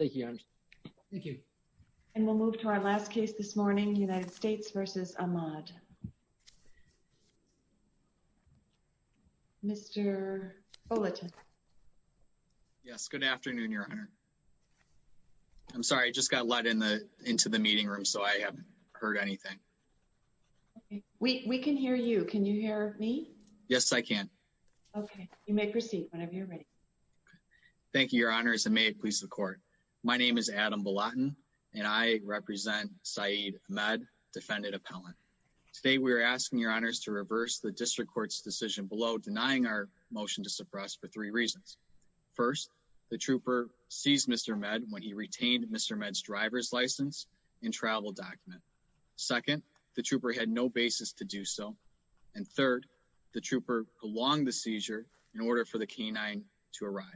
Good afternoon, Your Honor. I'm sorry, I just got let into the meeting room, so I haven't heard anything. We can hear you. Can you hear me? Yes, I can. Okay, you may proceed whenever you're ready. Thank you, Your Honors, and may it please the court. My name is Adam Balatin, and I represent Syed Ahmad, defendant appellant. Today, we're asking Your Honors to reverse the district court's decision below denying our motion to suppress for three reasons. First, the trooper seized Mr. Ahmed when he retained Mr. Ahmed's driver's license and travel document. Second, the trooper had no basis to do so. And third, the trooper prolonged the seizure in order for the canine to arrive.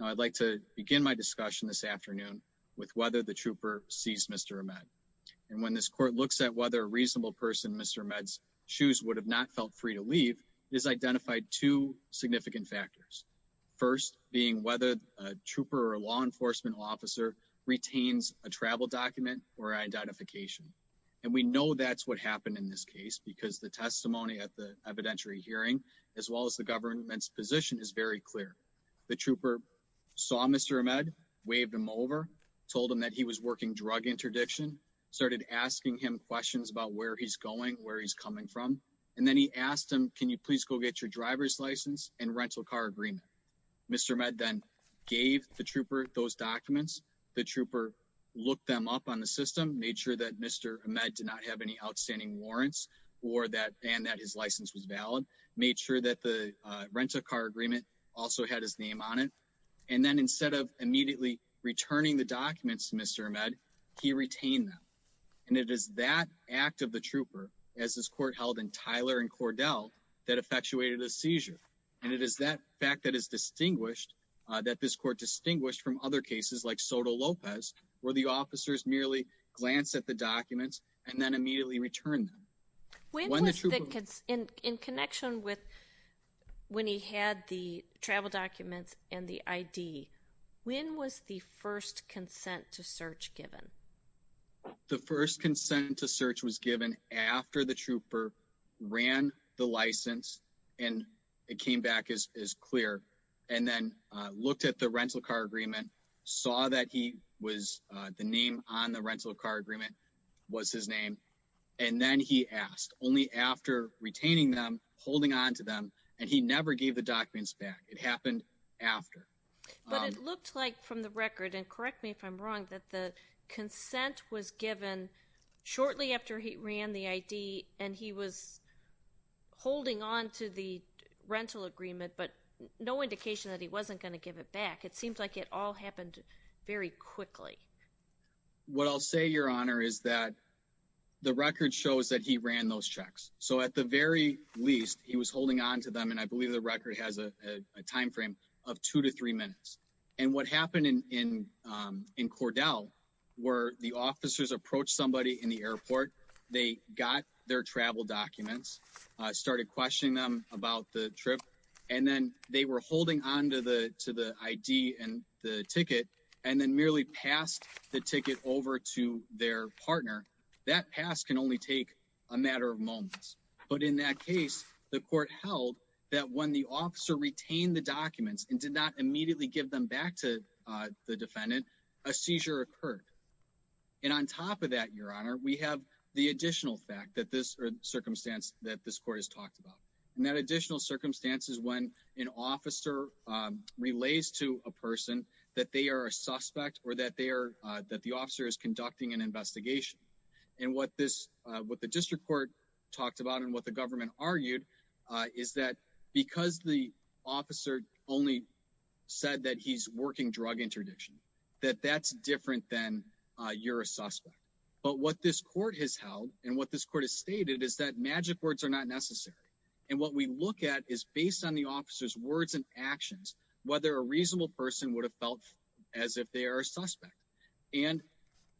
I'd like to begin my discussion this afternoon with whether the trooper seized Mr. Ahmed. And when this court looks at whether a reasonable person Mr. Ahmed's shoes would have not felt free to leave is identified two significant factors. First being whether a trooper or law enforcement officer retains a travel document or identification. And we know that's what happened in this case, because the testimony at the evidentiary hearing, as well as the government's position is very clear. The trooper saw Mr. Ahmed, waved him over, told him that he was working drug interdiction, started asking him questions about where he's going, where he's coming from. And then he asked him, can you please go get your driver's license and rental car agreement. Mr. Ahmed then gave the trooper those documents, the trooper looked them up on the system made sure that Mr. Ahmed did not have any outstanding warrants, or that and that his license was valid, made sure that the rental car agreement also had his name on it. And then instead of immediately returning the documents, Mr. Ahmed, he retained them. And it is that act of the trooper, as this court held in Tyler and Cordell, that effectuated a seizure. And it is that fact that is distinguished, that this court distinguished from other cases like Soto Lopez, where the officers merely glance at the when he had the travel documents and the ID, when was the first consent to search given? The first consent to search was given after the trooper ran the license. And it came back as clear, and then looked at the rental car agreement, saw that he was the name on the rental car agreement was his name. And then he asked only after retaining them, holding on to them. And he never gave the documents back. It happened after. But it looked like from the record and correct me if I'm wrong, that the consent was given shortly after he ran the ID and he was holding on to the rental agreement, but no indication that he wasn't going to give it back. It seems like it all happened very quickly. What I'll say, Your Honor, is that the record shows that he ran those checks. So at the very least, he was holding on to them. And I believe the record has a timeframe of two to three minutes. And what happened in in in Cordell, where the officers approached somebody in the airport, they got their travel documents, started questioning them about the trip. And then they were holding on to the to the ID and the ticket, and then merely passed the ticket over to their partner. That pass can only take a matter of moments. But in that case, the court held that when the officer retained the documents and did not immediately give them back to the defendant, a seizure occurred. And on top of that, Your Honor, we have the additional fact that this circumstance that this court has talked about, and that additional circumstances when an officer relays to a person that they are a suspect or that they are that the officer is conducting an investigation. And what this what the district court talked about, and what the government argued, is that because the officer only said that he's working drug interdiction, that that's different than you're a suspect. But what this court has held, and what this court has stated is that magic words are not necessary. And what we look at is based on the officer's words and actions, whether a reasonable person would have felt as if they are a suspect. And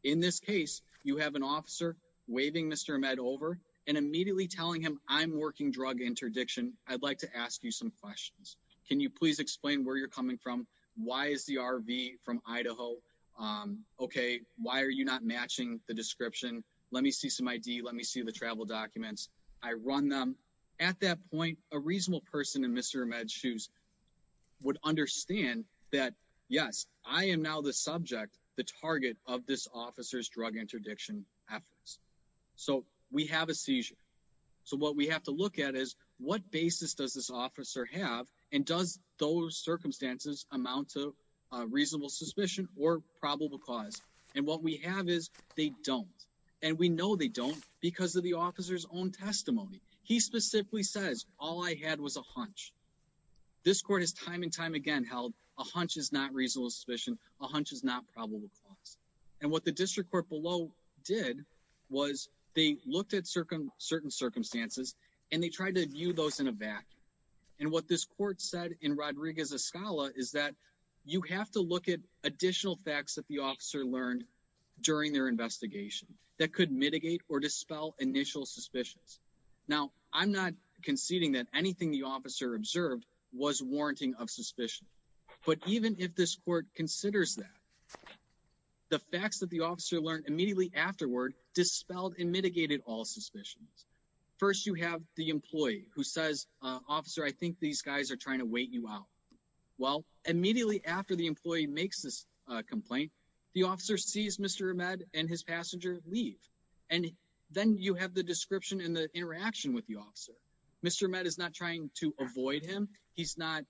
in this case, you have an officer waving Mr. Ahmed over and immediately telling him I'm working drug interdiction. I'd like to ask you some questions. Can you please explain where you're coming from? Why is the RV from Idaho? Okay, why are you not matching the description? Let me see some ID. Let me see the travel documents. I run at that point, a reasonable person in Mr. Ahmed shoes would understand that, yes, I am now the subject, the target of this officer's drug interdiction efforts. So we have a seizure. So what we have to look at is what basis does this officer have? And does those circumstances amount to reasonable suspicion or probable cause? And what we have is they don't. And we know they don't because of the officer's own testimony. He specifically says, all I had was a hunch. This court has time and time again held a hunch is not reasonable suspicion. A hunch is not probable cause. And what the district court below did was they looked at certain circumstances, and they tried to view those in a vacuum. And what this court said in Rodriguez-Escala is that you have to look at additional facts that the officer learned during their investigation that could mitigate or dispel initial suspicions. Now, I'm not conceding that anything the officer observed was warranting of suspicion. But even if this court considers that, the facts that the officer learned immediately afterward dispelled and mitigated all suspicions. First, you have the employee who says, officer, I think these guys are trying to wait you out. Well, immediately after the employee makes this complaint, the officer sees Mr. Ahmed and his passenger leave. And then you have the description and the interaction with the officer. Mr. Ahmed is not trying to avoid him. He's not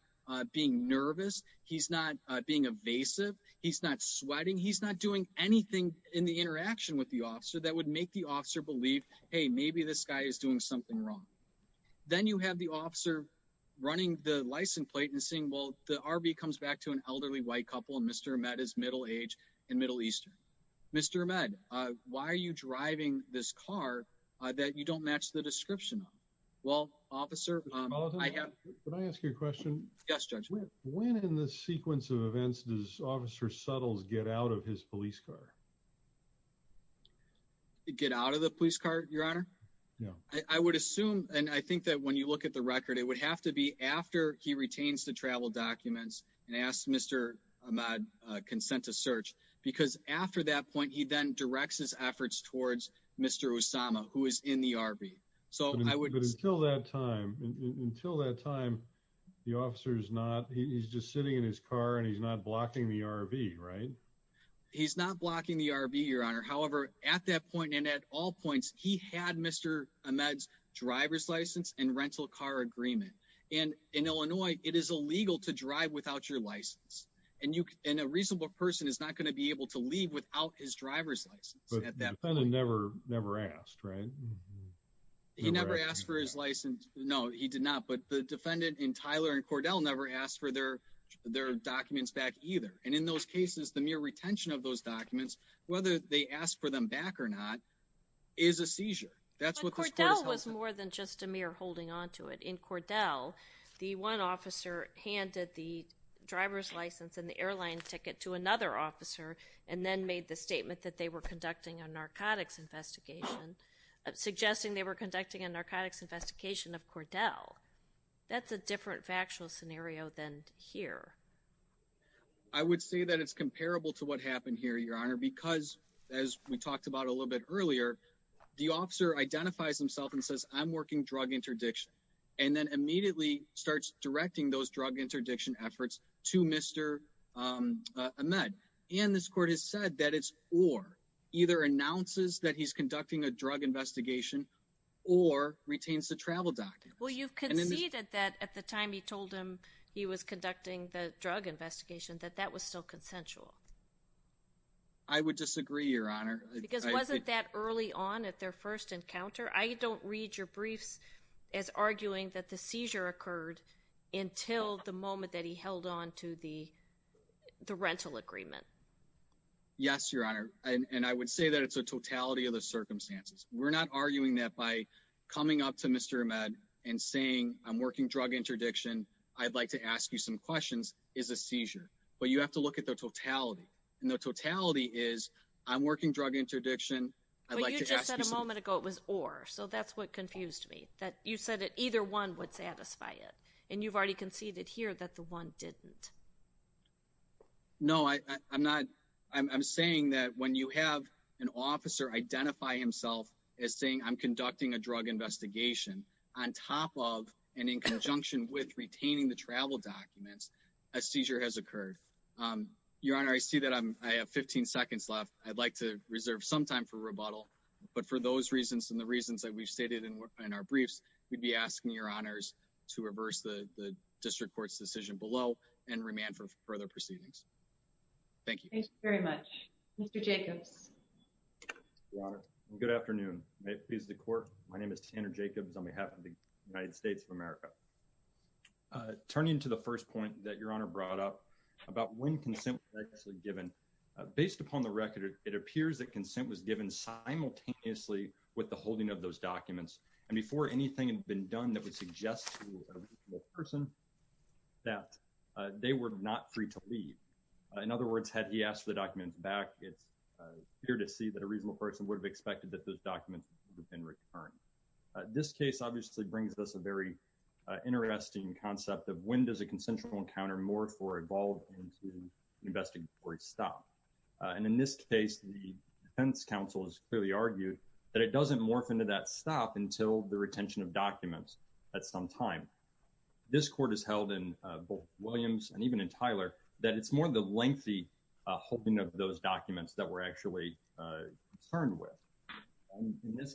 being nervous. He's not being evasive. He's not sweating. He's not doing anything in the interaction with the officer that would make the officer believe, hey, maybe this guy is doing something wrong. Then you have the officer running the license plate and saying, well, the RV comes back to an elderly white couple. And Mr. Ahmed is middle age and Middle Eastern. Mr. Ahmed, why are you driving this car that you don't match the description of? Well, officer, I have to ask you a question. Yes, Judge. When in the sequence of events does Officer Suttles get out of his police car? Get out of the police car, your honor? No, I would assume. And I think that when you look at the record, it would have to be after he retains the travel documents and asked Mr. Ahmed consent to search, because after that point, he then directs his efforts towards Mr. Osama, who is in the RV. So I would until that time, until that time, the officer is not he's just sitting in his car and he's not blocking the RV, right? He's not blocking the RV, your honor. However, at that point, and at all points, he had Mr. Ahmed's driver's license and rental car agreement. And in Illinois, it is illegal to drive without your license. And you can a reasonable person is not going to be able to leave without his driver's license. But the defendant never never asked, right? He never asked for his license. No, he did not. But the defendant and Tyler and Cordell never asked for their, their documents back either. And in those cases, the mere retention of those documents, whether they ask for them back or not, is a seizure. That's what Cordell was more than just a mere holding on to it in Cordell. The one officer handed the driver's license and the airline ticket to another officer, and then made the statement that they were conducting a narcotics investigation, suggesting they were conducting a narcotics investigation of Cordell. That's a different factual scenario than here. I would say that it's comparable to what happened here, your honor, because as we talked about a little bit earlier, the officer identifies himself and says, I'm working drug interdiction, and then immediately starts directing those drug interdiction efforts to Mr. Ahmed. And this court has said that it's or either announces that he's conducting a drug investigation, or retains the travel document. Well, you've conceded that at the time he told him he was conducting the drug investigation, that that was still consensual. I would disagree, your honor. Because wasn't that early on at their first encounter? I don't read your briefs as arguing that the seizure occurred until the moment that he held on to the the rental agreement. Yes, your honor. And I would say that it's a totality of the circumstances. We're not arguing that by coming up to Mr. Ahmed and saying, I'm working drug interdiction, I'd like to ask you some questions is a seizure. But you have to look at the totality. And the totality is, I'm working drug interdiction. I'd like to ask a moment ago, it was or so that's what confused me that you said that either one would satisfy it. And you've already conceded here that the one didn't. No, I'm not. I'm saying that when you have an officer identify himself as saying I'm conducting a drug investigation, on top of and in conjunction with retaining the travel documents, a seizure has occurred. Your honor, I see that I'm I have 15 seconds left, I'd like to reserve some time for rebuttal. But for those reasons, and the reasons that we've stated in our briefs, we'd be asking your honors to reverse the district court's decision below and remand for further proceedings. Thank you very much, Mr. Jacobs. Good afternoon, may it please the court. My name is Tanner Jacobs on behalf of the United States of America. Turning to the first point that your honor brought up about when consent was actually given. Based upon the record, it appears that consent was given simultaneously with the holding of those documents. And before anything had been done that would suggest to a person that they were not free to leave. In other words, had he asked for the documents back, it's clear to see that a reasonable person would have expected that those documents would have been returned. This case obviously brings us a very interesting concept of when does a consensual encounter more for evolved into an investigatory stop. And in this case, the defense counsel has clearly argued that it doesn't morph into that stop until the retention of documents at some time. This court has held in both Williams and even in Tyler, that it's more the lengthy holding of those documents that we're actually concerned with. In this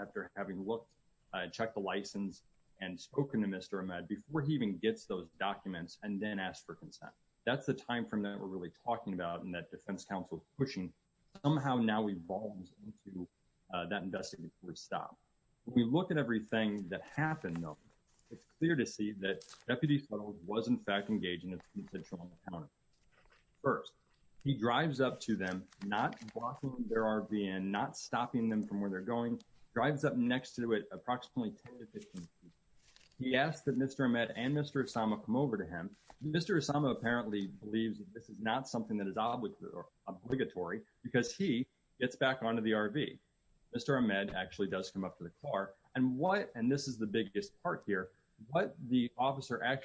after having looked at, checked the license, and spoken to Mr. Ahmed before he even gets those documents and then asked for consent. That's the time from that we're really talking about in that defense counsel pushing somehow now evolves into that investigative stop. We look at everything that happened, though, it's clear to see that Deputy was in fact engaged in a consensual encounter. first, he drives up to them, not blocking their RV and not stopping them from where they're going, drives up next to it approximately 10 to 15 feet. He asked that Mr. Ahmed and Mr. Osama come over to him. Mr. Osama apparently believes that this is not something that is obligatory, because he gets back onto the RV. Mr. Ahmed actually does come up to the car and what and this is the biggest part here, what the people at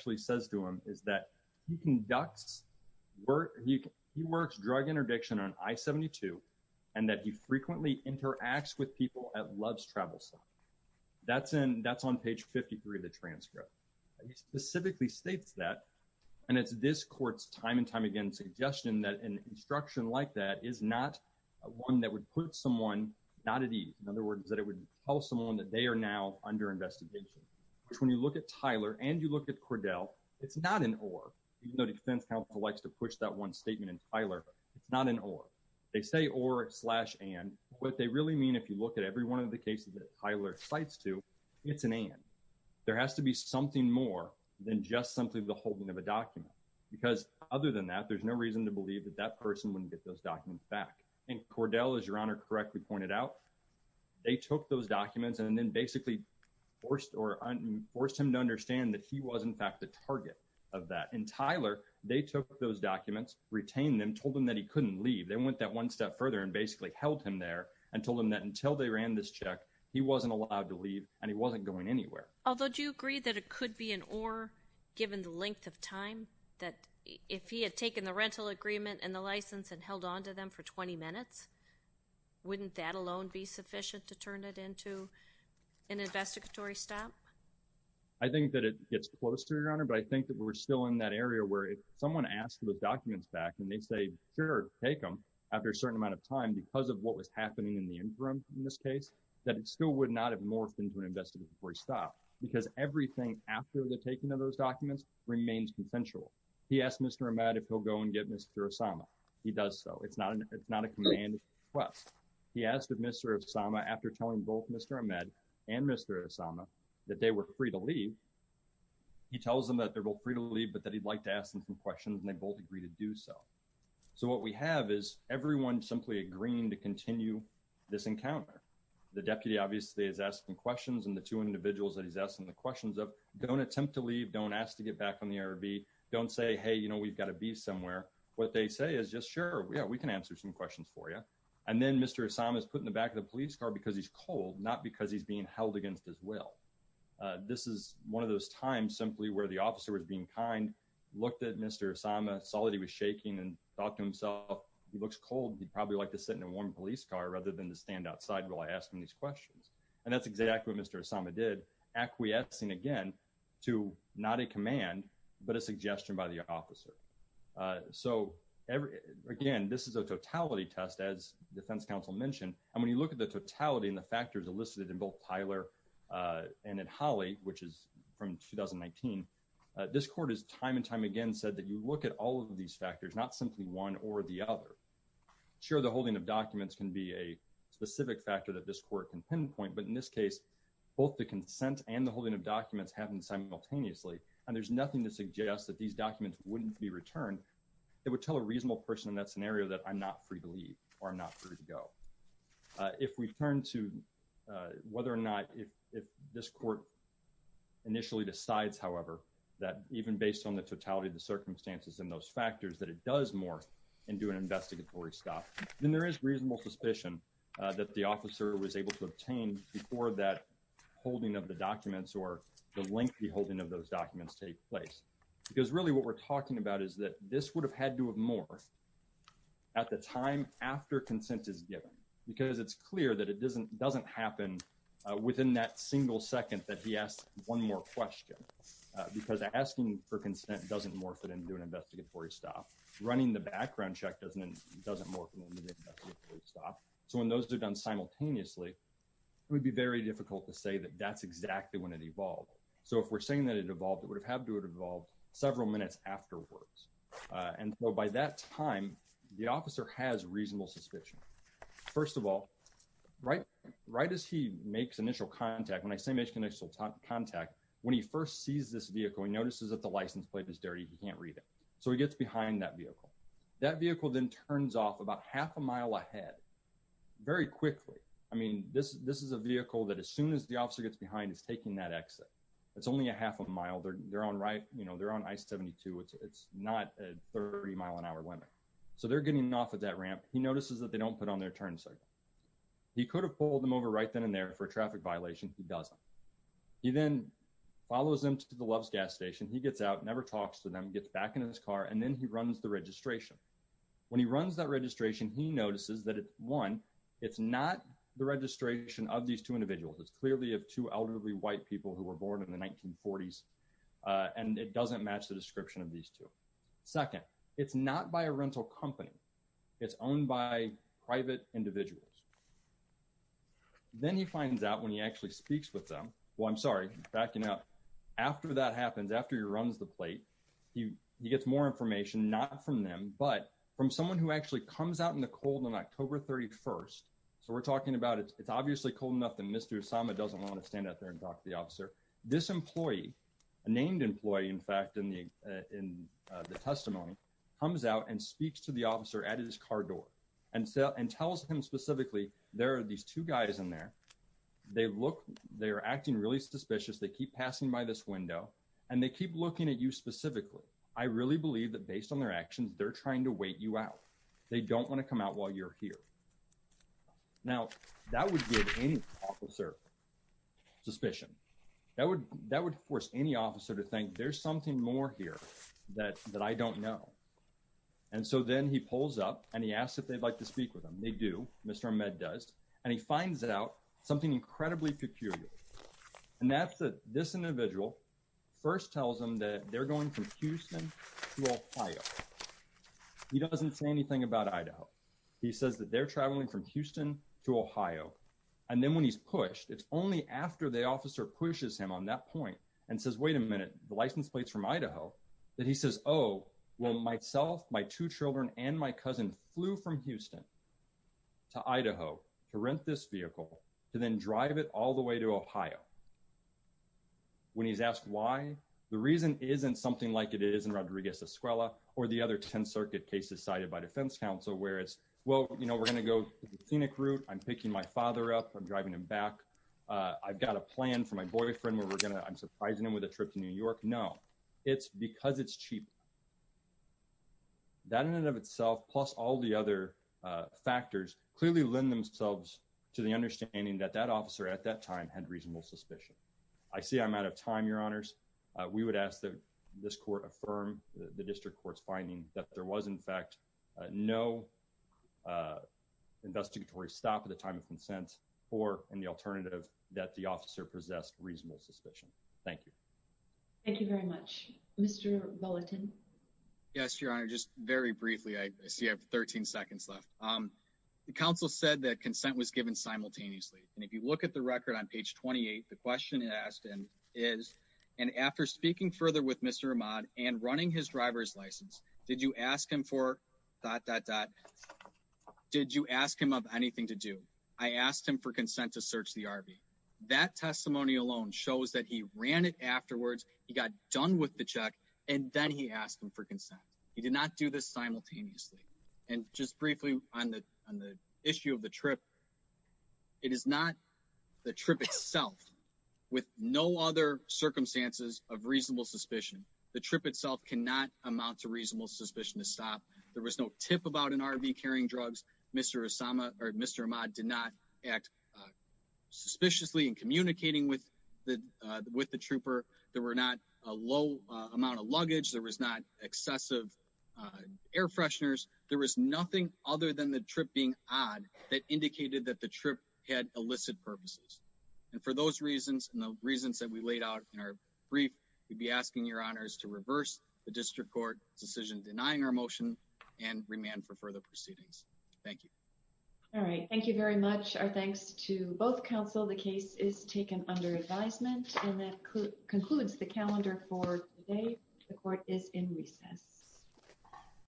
loves travel stop. That's in that's on page 53 of the transcript. He specifically states that. And it's this court's time and time again suggestion that an instruction like that is not one that would put someone not at ease. In other words, that it would tell someone that they are now under investigation, which when you look at Tyler and you look at Cordell, it's not an or even though defense counsel likes to push that one statement and Tyler, it's not an or they say or slash and what they really mean, if you look at every one of the cases that Tyler sites to, it's an end, there has to be something more than just simply the holding of a document. Because other than that, there's no reason to believe that that person wouldn't get those documents back. And Cordell, as your honor correctly pointed out, they took those documents and then basically forced or forced him to understand that he was in fact, the target of that and Tyler, they took those documents, retain them told him that he wasn't going anywhere. Although do you agree that it could be an or given the length of time that if he had taken the rental agreement and the license and held on to them for 20 minutes, wouldn't that alone be sufficient to turn it into an investigatory stop? I think that it gets closer, your honor. But I think that we're still in that area where if someone asked for the documents back, and they say, Sure, take them after a certain amount of time because of what was happening in the interim in this case, that it still would not have morphed into an investigative stop, because everything after the taking of those documents remains consensual. He asked Mr. Ahmed, if he'll go and get Mr. Osama. He does. So it's not an it's not a command. Well, he asked Mr. Osama after telling both Mr. Ahmed, and Mr. Osama, that they were free to leave. He tells them that they're both free to leave, but that he'd like to ask them some questions, and they both agree to do so. So what we have is everyone simply agreeing to continue this encounter. The deputy obviously is asking questions and the two individuals that he's asking the questions of don't attempt to leave, don't ask to get back on the air B, don't say, Hey, you know, we've got to be somewhere. What they say is just sure. Yeah, we can answer some questions for you. And then Mr. Osama is put in the back of the police car because he's cold, not because he's being held against his will. This is one of those times simply where the officer was being kind, looked at Mr. Osama, saw that he was shaking and thought to himself, he looks cold, he'd probably like to sit in a warm police car rather than to stand outside while asking these questions. And that's exactly what Mr. Osama did, acquiescing again, to not a command, but a suggestion by the officer. So again, this is a totality test, as defense counsel mentioned. And when you look at the totality and the factors elicited in both Tyler and in Holly, which is from 2019, this court is time and time again said that you look at all of these factors, not simply one or the other. I'm sure the holding of documents can be a specific factor that this court can pinpoint. But in this case, both the consent and the holding of documents happen simultaneously. And there's nothing to suggest that these documents wouldn't be returned. It would tell a reasonable person in that scenario that I'm not free to leave or not free to go. If we turn to whether or not if this court initially decides, however, that even based on the totality of the circumstances and those factors, that it does morph into an investigatory stop, then there is reasonable suspicion that the officer was able to obtain before that holding of the documents or the lengthy holding of those documents take place. Because really what we're talking about is that this would have had to have morphed at the time after consent is given, because it's clear that it doesn't happen within that single second that he asked one more question. Because asking for consent doesn't morph it into an investigatory stop. Running the background check doesn't morph it into an investigatory stop. So when those are done simultaneously, it would be very difficult to say that that's exactly when it evolved. So if we're saying that it evolved, it would have to have evolved several minutes afterwards. And so by that time, the officer has reasonable suspicion. First of all, right as he makes initial contact, when I say makes initial contact, when he first sees this vehicle, he notices that the license plate is dirty. He can't read it. So he gets behind that vehicle. That vehicle then turns off about half a mile ahead very quickly. I mean, this is a vehicle that as soon as the officer gets behind is taking that exit. It's only a half a mile. They're on I-72. It's not a 30 mile an hour window. So they're getting off at that ramp. He notices that they don't put on their turn signal. He could have pulled them over right then and there for a traffic violation. He doesn't. He then follows them to the Love's gas station. He gets out, never talks to them, gets back in his car, and then he runs the registration. When he runs that registration, he notices that one, it's not the registration of these two individuals. It's clearly of two elderly white people who were born in the 1940s. And it doesn't match the description of these two. Second, it's not by a rental company. It's owned by private individuals. Then he finds out when he actually speaks with them. Well, I'm sorry, backing up. After that happens, after he runs the plate, he gets more information, not from them, but from someone who actually comes out in the cold on October 31st. So we're talking about it. It's obviously cold enough that Mr. Osama doesn't want to stand out there and talk to the officer. This employee, a named employee, in fact, in the testimony, comes out and speaks to the officer at his car door and tells him specifically, there are these two guys in there. They look, they're acting really suspicious. They keep passing by this window and they keep looking at you specifically. I really believe that based on their actions, they're trying to wait you out. They don't want to come out while you're here. Now, that would give any officer suspicion. That would force any officer to think there's something more here that I don't know. And so then he pulls up and he asks if they'd like to speak with him. They do. Mr. Ahmed does. And he finds out something incredibly peculiar. And that's that this individual first tells him that they're going from Houston to Ohio. He doesn't say anything about Idaho. He says that they're traveling from Houston to Ohio. And then when he's pushed, it's only after the officer pushes him on that point and says, wait a minute, the license plates from Idaho, that he says, oh, well, myself, my two children and my cousin flew from Houston to Idaho to rent this vehicle to then drive it all the way to Ohio. When he's asked why, the reason isn't something like it is in Rodriguez-Escuela or the other 10 circuit cases cited by defense counsel, whereas, well, you know, we're going to go to the scenic route. I'm picking my father up. I'm driving him back. I've got a plan for my boyfriend where we're going to I'm surprising him with a trip to New York. No, it's because it's cheap. That in and of itself, plus all the other factors clearly lend themselves to the understanding that that officer at that time had reasonable suspicion. I see I'm out of time, Your Honors. We would ask that this court affirm the district court's finding that there was, in fact, no investigatory stop at the time of consent or in the alternative that the officer possessed reasonable suspicion. Thank you. Thank you very much, Mr. Bulletin. Yes, Your Honor. Just very briefly. I see I have 13 seconds left. The counsel said that consent was given simultaneously. And if you look at the record on page 28, the question asked is, and after speaking further with Mr. Ahmad and running his driver's license, did you ask him for dot, dot, dot? Did you ask him of anything to do? I asked him for consent to search the RV. That testimony alone shows that he ran it afterwards. He got done with the check, and then he asked him for consent. He did not do this simultaneously. And just briefly on the issue of the trip, it is not the trip itself with no other circumstances of reasonable suspicion. The trip itself cannot amount to reasonable suspicion to stop. There was no tip about an RV carrying drugs. Mr. Ahmad did not act suspiciously in communicating with the trooper. There were not a low amount of luggage. There was not excessive air fresheners. There was nothing other than the trip being odd that indicated that the trip had illicit purposes. And for those reasons and the reasons that we laid out in our brief, we'd be asking Your Honors to reverse the district court decision denying our motion and remand for further proceedings. Thank you. All right. Thank you very much. Our thanks to both counsel. The case is taken under advisement, and that concludes the calendar for today. The court is in recess.